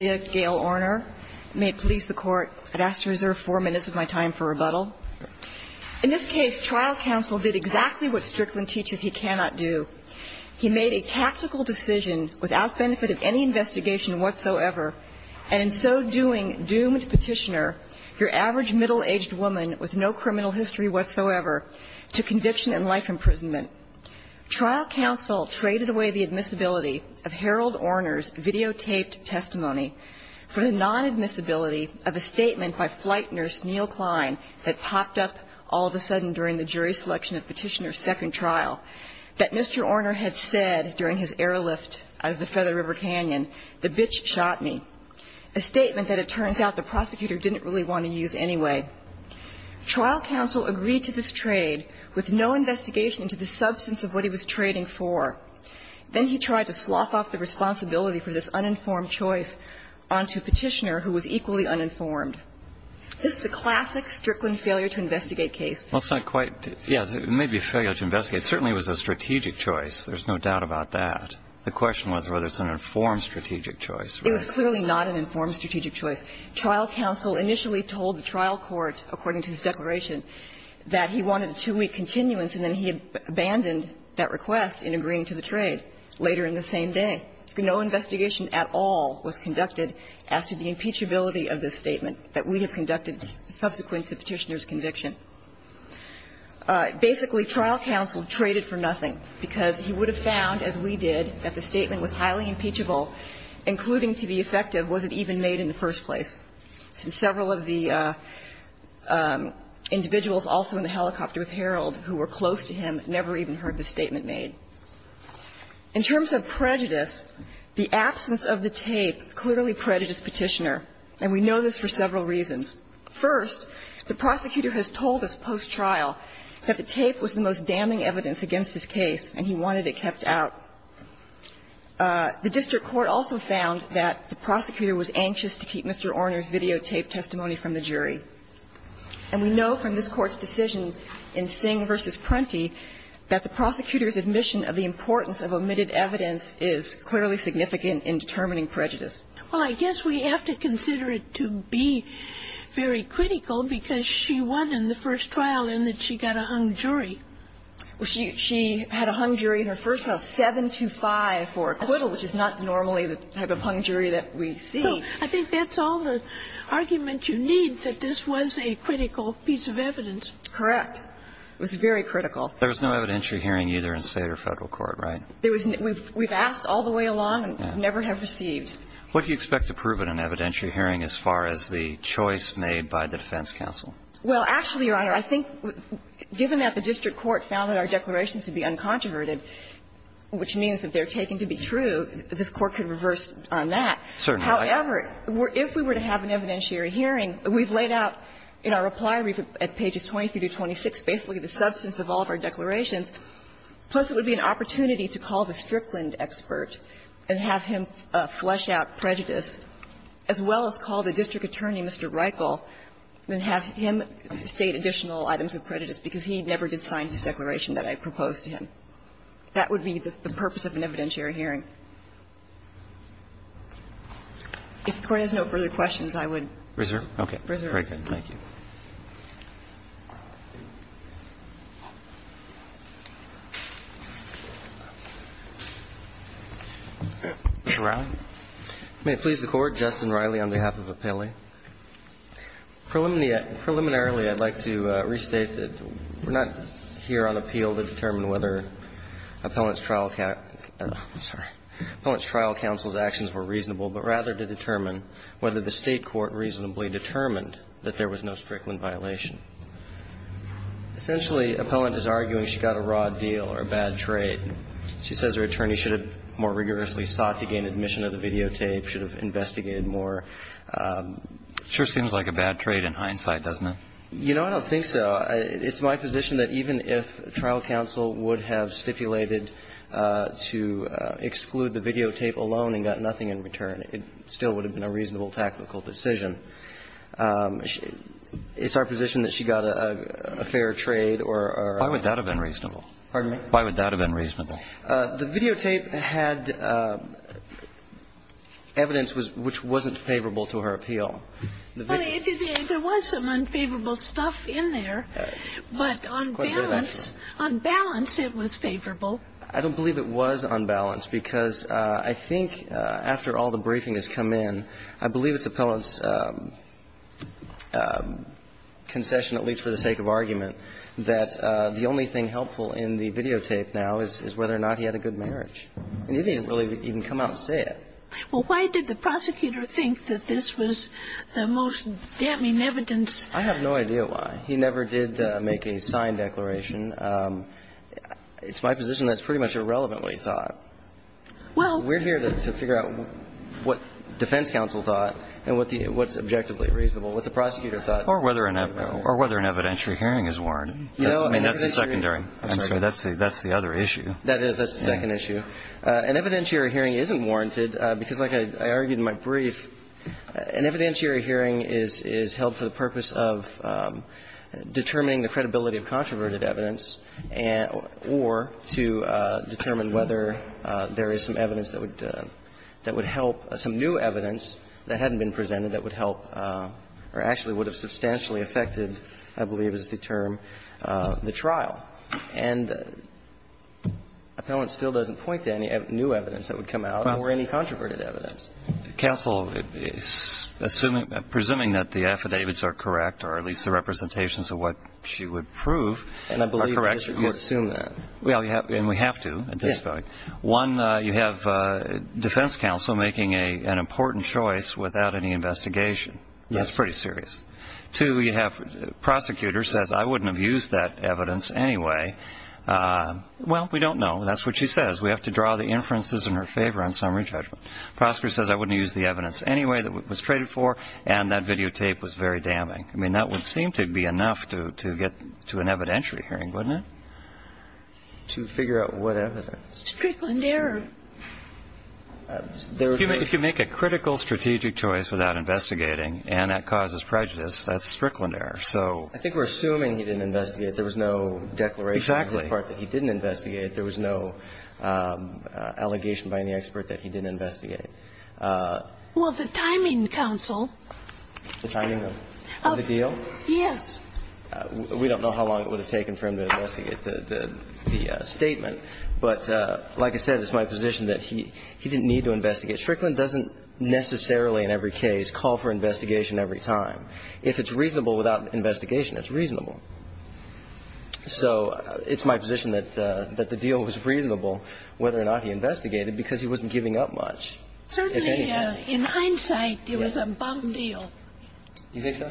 May it please the Court, I'd ask to reserve four minutes of my time for rebuttal. In this case, trial counsel did exactly what Strickland teaches he cannot do. He made a tactical decision without benefit of any investigation whatsoever, and in so doing doomed petitioner, your average middle-aged woman with no criminal history whatsoever, to conviction and life imprisonment. Trial counsel traded away the admissibility of Harold Orner's videotaped testimony for the non-admissibility of a statement by flight nurse Neal Klein that popped up all of a sudden during the jury selection of Petitioner's second trial, that Mr. Orner had said during his airlift out of the Feather River Canyon, the bitch shot me, a statement that it turns out the prosecutor didn't really want to use anyway. Trial counsel agreed to this trade with no investigation into the substance of what he was trading for. Then he tried to slough off the responsibility for this uninformed choice onto Petitioner, who was equally uninformed. This is a classic Strickland failure-to-investigate case. Well, it's not quite – yes, it may be a failure-to-investigate. Certainly, it was a strategic choice. There's no doubt about that. The question was whether it's an informed strategic choice. It was clearly not an informed strategic choice. Trial counsel initially told the trial court, according to his declaration, that he wanted a two-week continuance, and then he abandoned that request in agreeing to the trade later in the same day. No investigation at all was conducted as to the impeachability of this statement that we have conducted subsequent to Petitioner's conviction. Basically, trial counsel traded for nothing, because he would have found, as we did, that the statement was highly impeachable, including to the effect of was it even made in the first place, since several of the individuals also in the helicopter with Herold who were close to him never even heard the statement made. In terms of prejudice, the absence of the tape clearly prejudiced Petitioner, and we know this for several reasons. First, the prosecutor has told us post-trial that the tape was the most damning evidence against his case, and he wanted it kept out. The district court also found that the prosecutor was anxious to keep Mr. Orner's videotaped testimony from the jury. And we know from this Court's decision in Singh v. Prenti that the prosecutor's admission of the importance of omitted evidence is clearly significant in determining prejudice. Well, I guess we have to consider it to be very critical, because she won in the first trial in that she got a hung jury. Well, she had a hung jury in her first trial, 7 to 5 for acquittal, which is not normally the type of hung jury that we see. So I think that's all the argument you need, that this was a critical piece of evidence. Correct. It was very critical. There was no evidentiary hearing either in State or Federal court, right? There was no – we've asked all the way along and never have received. What do you expect to prove in an evidentiary hearing as far as the choice made by the defense counsel? Well, actually, Your Honor, I think given that the district court found that our declarations to be uncontroverted, which means that they're taken to be true, this Court could reverse on that. Certainly. However, if we were to have an evidentiary hearing, we've laid out in our reply brief at pages 23 to 26 basically the substance of all of our declarations. Plus, it would be an opportunity to call the Strickland expert and have him flesh out prejudice, as well as call the district attorney, Mr. Reichel, and have him state additional items of prejudice, because he never did sign his declaration that I proposed to him. That would be the purpose of an evidentiary hearing. If the Court has no further questions, I would reserve. Okay. Very good. Thank you. Mr. Riley. May it please the Court, Justin Riley on behalf of Appellee. Preliminarily, I'd like to restate that we're not here on appeal to determine whether Appellant's trial counsel's actions were reasonable, but rather to determine whether the State court reasonably determined that there was no Strickland violation. Essentially, Appellant is arguing she got a raw deal or a bad trade. She says her attorney should have more rigorously sought to gain admission of the It sure seems like a bad trade in hindsight, doesn't it? You know, I don't think so. It's my position that even if trial counsel would have stipulated to exclude the videotape alone and got nothing in return, it still would have been a reasonable tactical decision. It's our position that she got a fair trade or a ---- Why would that have been reasonable? Pardon me? Why would that have been reasonable? The videotape had evidence which wasn't favorable to her appeal. Well, there was some unfavorable stuff in there, but on balance, on balance it was favorable. I don't believe it was unbalanced because I think after all the briefing has come in, I believe it's Appellant's concession, at least for the sake of argument, that the only thing helpful in the videotape now is whether or not he had a good marriage, and he didn't really even come out and say it. Well, why did the prosecutor think that this was the most damning evidence? I have no idea why. He never did make a signed declaration. It's my position that's pretty much irrelevant what he thought. Well, we're here to figure out what defense counsel thought and what's objectively reasonable, what the prosecutor thought. Or whether an evidentiary hearing is warranted. You know, I mean, that's the secondary. I'm sorry. That's the other issue. That is. That's the second issue. An evidentiary hearing isn't warranted because, like I argued in my brief, an evidentiary hearing is held for the purpose of determining the credibility of controverted evidence or to determine whether there is some evidence that would help, some new evidence that hadn't been presented that would help or actually would have substantially affected, I believe is the term, the trial. And appellant still doesn't point to any new evidence that would come out or any controverted evidence. Counsel, assuming that the affidavits are correct or at least the representations of what she would prove are correct. And I believe the district court assumed that. Well, and we have to at this point. One, you have defense counsel making an important choice without any investigation. That's pretty serious. Two, you have prosecutor says, I wouldn't have used that evidence anyway. Well, we don't know. That's what she says. We have to draw the inferences in her favor on summary judgment. Prosecutor says, I wouldn't use the evidence anyway that was traded for. And that videotape was very damning. I mean, that would seem to be enough to get to an evidentiary hearing, wouldn't it? To figure out what evidence? Strickland error. If you make a critical strategic choice without investigating, and that causes prejudice, that's Strickland error. So I think we're assuming he didn't investigate. There was no declaration on the part that he didn't investigate. There was no allegation by any expert that he didn't investigate. Well, the timing, counsel. The timing of the deal? Yes. We don't know how long it would have taken for him to investigate the statement. But like I said, it's my position that he didn't need to investigate. Strickland doesn't necessarily in every case call for investigation every time. If it's reasonable without investigation, it's reasonable. So it's my position that the deal was reasonable whether or not he investigated because he wasn't giving up much. Certainly, in hindsight, it was a bum deal. You think so?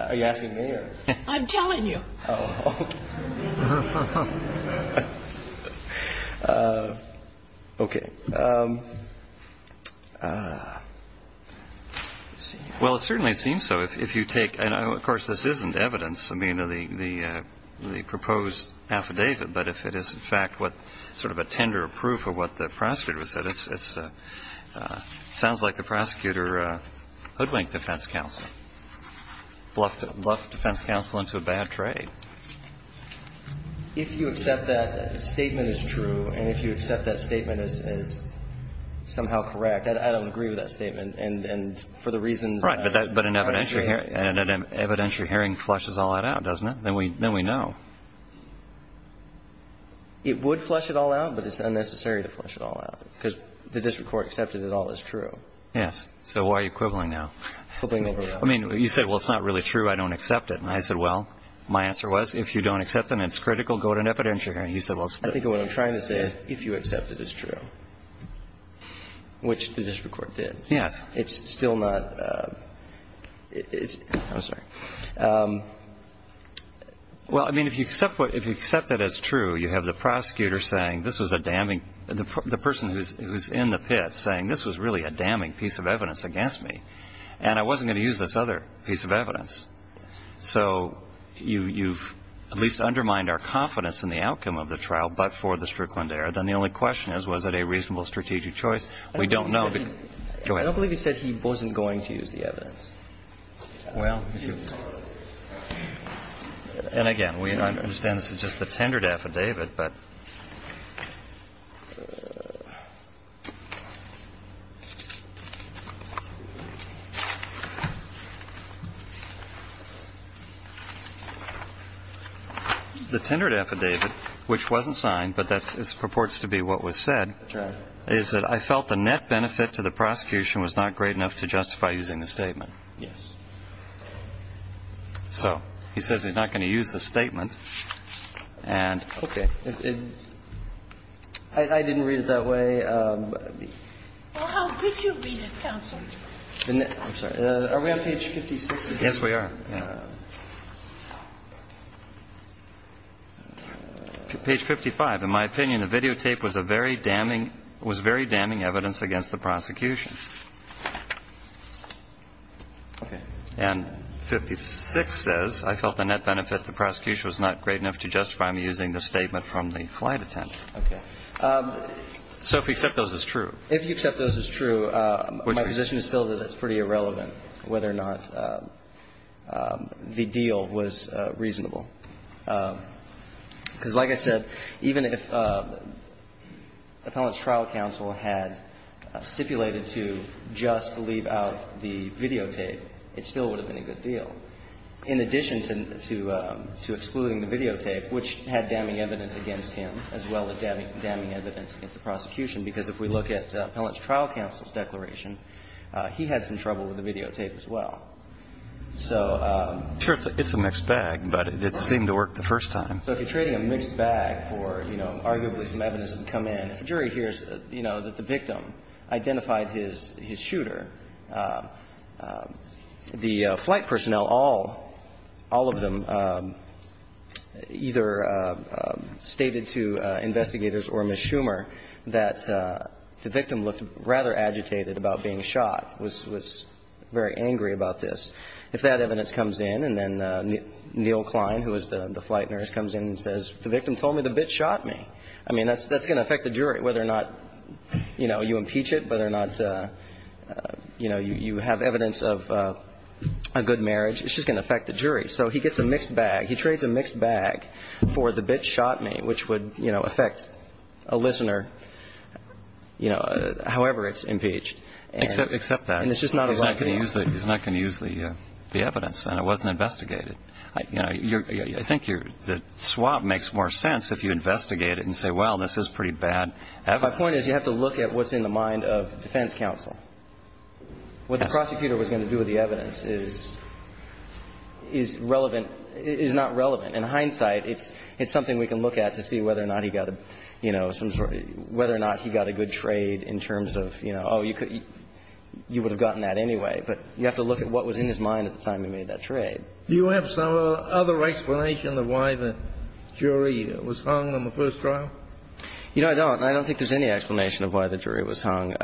Are you asking me or? I'm telling you. Oh, okay. Okay. Well, it certainly seems so if you take, and of course, this isn't evidence. I mean, the proposed affidavit, but if it is in fact what sort of a tender proof of what the prosecutor said, it sounds like the prosecutor hoodwinked the defense counsel, bluffed the defense counsel into a bad trade. If you accept that statement is true and if you accept that statement is somehow correct, I don't agree with that statement. And for the reasons, but an evidentiary hearing flushes all that out, doesn't it? Then we know it would flush it all out, but it's unnecessary to flush it all out because the district court accepted it all is true. Yes. So why are you quibbling now? I mean, you said, well, it's not really true. I don't accept it. I said, well, my answer was, if you don't accept them, it's critical. Go to an evidentiary hearing. He said, well, I think what I'm trying to say is if you accept that it's true, which the district court did. Yes. It's still not, it's, I'm sorry. Well, I mean, if you accept what, if you accept that it's true, you have the prosecutor saying this was a damning, the person who's in the pit saying this was really a damning So you've at least undermined our confidence in the outcome of the trial, but for the Strickland error. Then the only question is, was it a reasonable strategic choice? We don't know. I don't believe he said he wasn't going to use the evidence. Well, and again, we understand this is just the tendered affidavit, but. The tendered affidavit, which wasn't signed, but that's, it's purports to be what was said is that I felt the net benefit to the prosecution was not great enough to justify using the statement. Yes. So he says he's not going to use the statement. And, okay. I didn't read it that way. Well, how did you read it, counsel? I'm sorry. Are we on page 56? Yes, we are. Page 55. In my opinion, the videotape was a very damning, was very damning evidence against the prosecution. Okay. And 56 says, I felt the net benefit to the prosecution was not great enough to justify me using the statement from the flight attendant. Okay. So if we accept those as true. If you accept those as true, my position is still that it's pretty irrelevant whether or not the deal was reasonable. Because, like I said, even if Appellant's Trial Counsel had stipulated to just leave out the videotape, it still would have been a good deal. In addition to excluding the videotape, which had damning evidence against him as well as damning evidence against the prosecution, because if we look at Appellant's Trial Counsel's declaration, he had some trouble with the videotape as well. So the jury hears that, you know, that the victim identified his shooter, and he was shot. The flight personnel, all of them, either stated to investigators or Ms. Schumer that the victim looked rather agitated about being shot, was very angry about this. If that evidence comes in, and then Neil Klein, who was the flight nurse, comes in and says, the victim told me the bitch shot me. I mean, that's going to affect the jury, whether or not, you know, you impeach it, whether or not, you know, you have evidence of a good marriage. It's just going to affect the jury. So he gets a mixed bag. He trades a mixed bag for the bitch shot me, which would, you know, affect a listener, you know, however it's impeached. And it's just not a good deal. Except that, he's not going to use the evidence, and it wasn't investigated. You know, I think the swap makes more sense if you investigate it and say, well, this is pretty bad evidence. My point is, you have to look at what's in the mind of defense counsel. What the prosecutor was going to do with the evidence is relevant, is not relevant. In hindsight, it's something we can look at to see whether or not he got a, you know, some sort of, whether or not he got a good trade in terms of, you know, oh, you could, you would have gotten that anyway. But you have to look at what was in his mind at the time he made that trade. Do you have some other explanation of why the jury was hung on the first trial? You know, I don't. I don't think there's any explanation of why the jury was hung.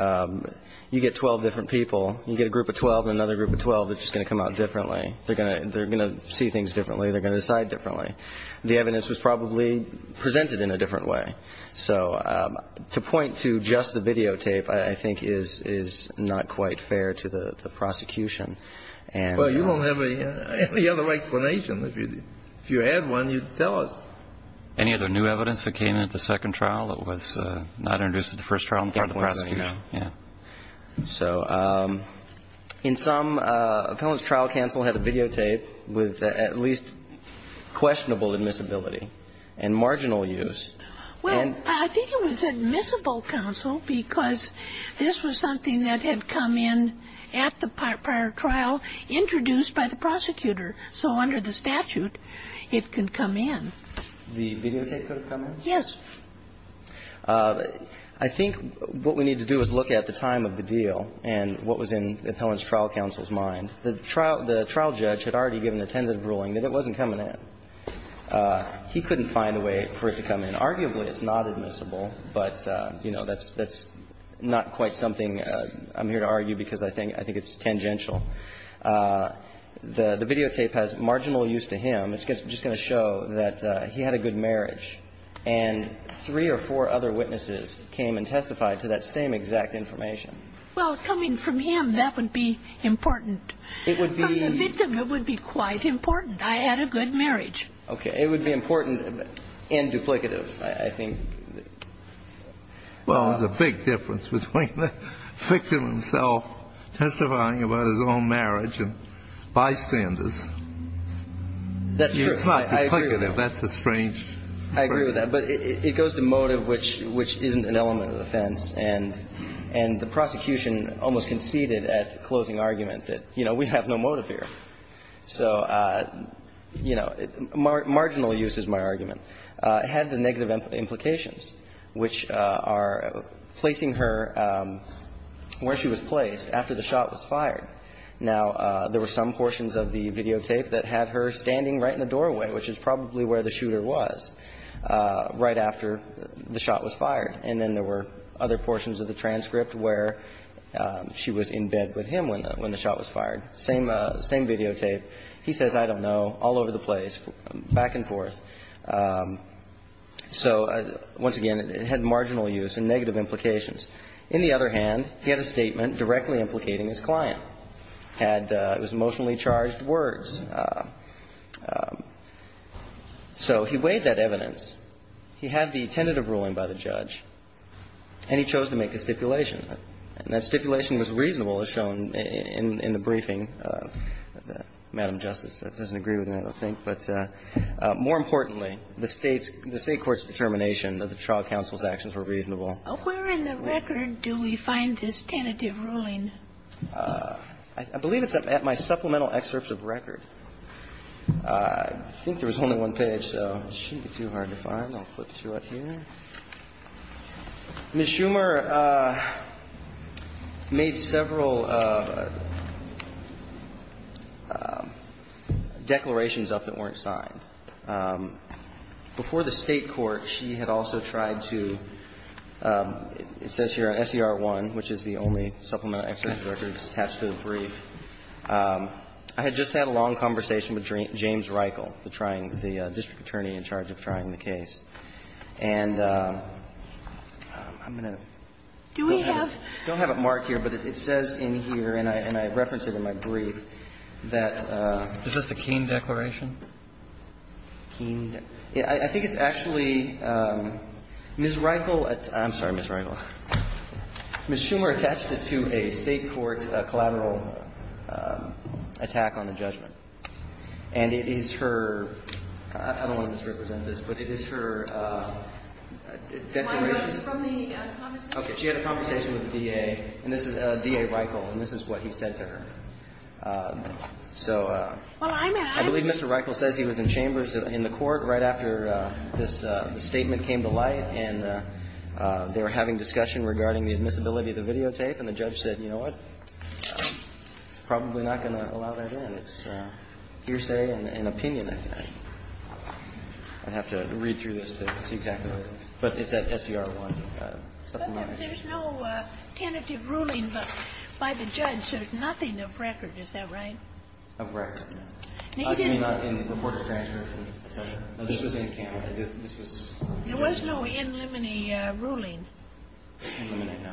You get 12 different people. You get a group of 12 and another group of 12 that's just going to come out differently. They're going to see things differently. They're going to decide differently. The evidence was probably presented in a different way. So to point to just the videotape, I think, is not quite fair to the prosecution. And you won't have any other explanation. If you had one, you'd tell us. Any other new evidence that came in at the second trial? It was not introduced at the first trial in part because of the prosecution. Yeah. So in some, Appellant's trial counsel had a videotape with at least questionable admissibility and marginal use. Well, I think it was admissible, counsel, because this was something that had come in at the prior trial introduced by the prosecutor. So under the statute, it could come in. The videotape could come in? Yes. I think what we need to do is look at the time of the deal and what was in Appellant's trial counsel's mind. The trial judge had already given the tentative ruling that it wasn't coming in. He couldn't find a way for it to come in. Arguably, it's not admissible, but, you know, that's not quite something I'm here to argue because I think it's tangential. The videotape has marginal use to him. It's just going to show that he had a good marriage. And three or four other witnesses came and testified to that same exact information. Well, coming from him, that would be important. It would be the victim. It would be quite important. I had a good marriage. Okay. It would be important and duplicative, I think. Well, there's a big difference between the victim himself testifying about his own marriage and bystanders. That's true. It's not duplicative. That's a strange. I agree with that. But it goes to motive, which isn't an element of the offense. And the prosecution almost conceded at closing argument that, you know, we have no motive here. So, you know, marginal use is my argument. It had the negative implications, which are placing her where she was placed after the shot was fired. Now, there were some portions of the videotape that had her standing right in the doorway, which is probably where the shooter was, right after the shot was fired. And then there were other portions of the transcript where she was in bed with him when the shot was fired. Same videotape. He says, I don't know, all over the place, back and forth. So, once again, it had marginal use and negative implications. In the other hand, he had a statement directly implicating his client. And it was emotionally charged words. So he weighed that evidence. He had the tentative ruling by the judge, and he chose to make a stipulation. And that stipulation was reasonable, as shown in the briefing. Madam Justice, that doesn't agree with me, I don't think. But more importantly, the State's – the State court's determination that the trial counsel's actions were reasonable. Where in the record do we find this tentative ruling? I believe it's at my supplemental excerpts of record. I think there was only one page, so it shouldn't be too hard to find. I'll flip through it here. Ms. Schumer made several declarations up that weren't signed. Before the State court, she had also tried to – it says here on SER1, which is the only supplemental excerpt of records attached to the brief, I had just had a long conversation with James Reichel, the district attorney in charge of trying the case. And I'm going to – Do we have – I don't have it marked here, but it says in here, and I referenced it in my brief, that – Is this the Keene declaration? Keene – I think it's actually – Ms. Reichel – I'm sorry, Ms. Reichel. Ms. Schumer attached it to a State court collateral attack on the judgment. And it is her – I don't want to misrepresent this, but it is her declaration Why, that's from the conversation? Okay. She had a conversation with the DA, and this is DA Reichel, and this is what he said to her. So I believe Mr. Reichel says he was in chambers in the court right after this statement came to light, and they were having discussion regarding the admissibility of the videotape, and the judge said, you know what, it's probably not going to allow that in. It's hearsay and opinion, I think. I'd have to read through this to see exactly what it is. But it's that SDR1 supplemental excerpt. But there's no tentative ruling by the judge. There's nothing of record. Is that right? Of record, no. I mean, not in the court of transgression. No, this was in Canada. There was no in limine ruling. In limine, no.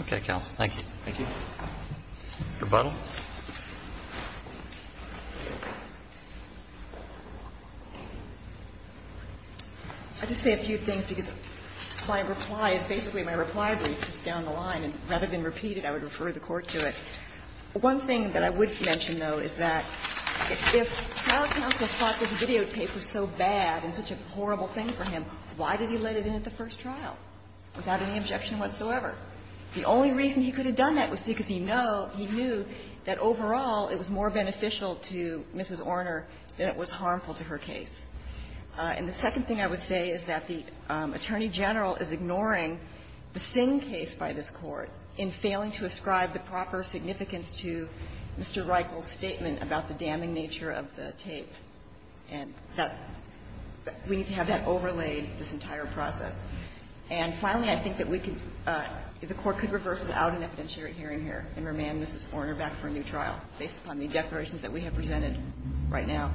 Okay, counsel. Thank you. Thank you. Rebuttal? I'll just say a few things, because my reply is – basically, my reply brief is down the line, and rather than repeat it, I would refer the Court to it. One thing that I would mention, though, is that if trial counsel thought this videotape was so bad and such a horrible thing for him, why did he let it in at the first trial without any objection whatsoever? The only reason he could have done that was because he know – he knew that overall it was more beneficial to Mrs. Orner than it was harmful to her case. And the second thing I would say is that the Attorney General is ignoring the Singh case by this Court in failing to ascribe the proper significance to Mr. Reichel's statement about the damning nature of the tape. And that's – we need to have that overlaid, this entire process. And finally, I think that we could – the Court could reverse without an evidentiary hearing here and remand Mrs. Orner back for a new trial, based upon the declarations that we have presented right now.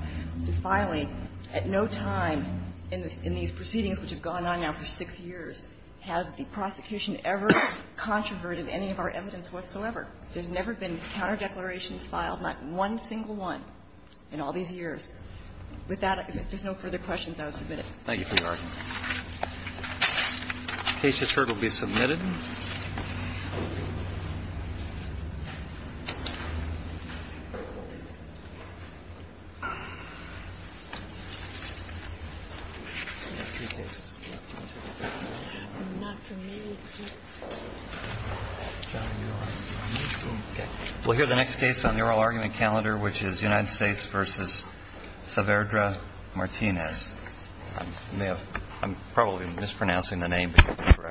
Finally, at no time in these proceedings, which have gone on now for six years, has the prosecution ever controverted any of our evidence whatsoever. There's never been counterdeclarations filed, not one single one, in all these years. With that, if there's no further questions, I will submit it. Thank you for your argument. The case, as heard, will be submitted. We'll hear the next case on the oral argument calendar, which is United States v. Saverdra Martinez. I'm probably mispronouncing the name.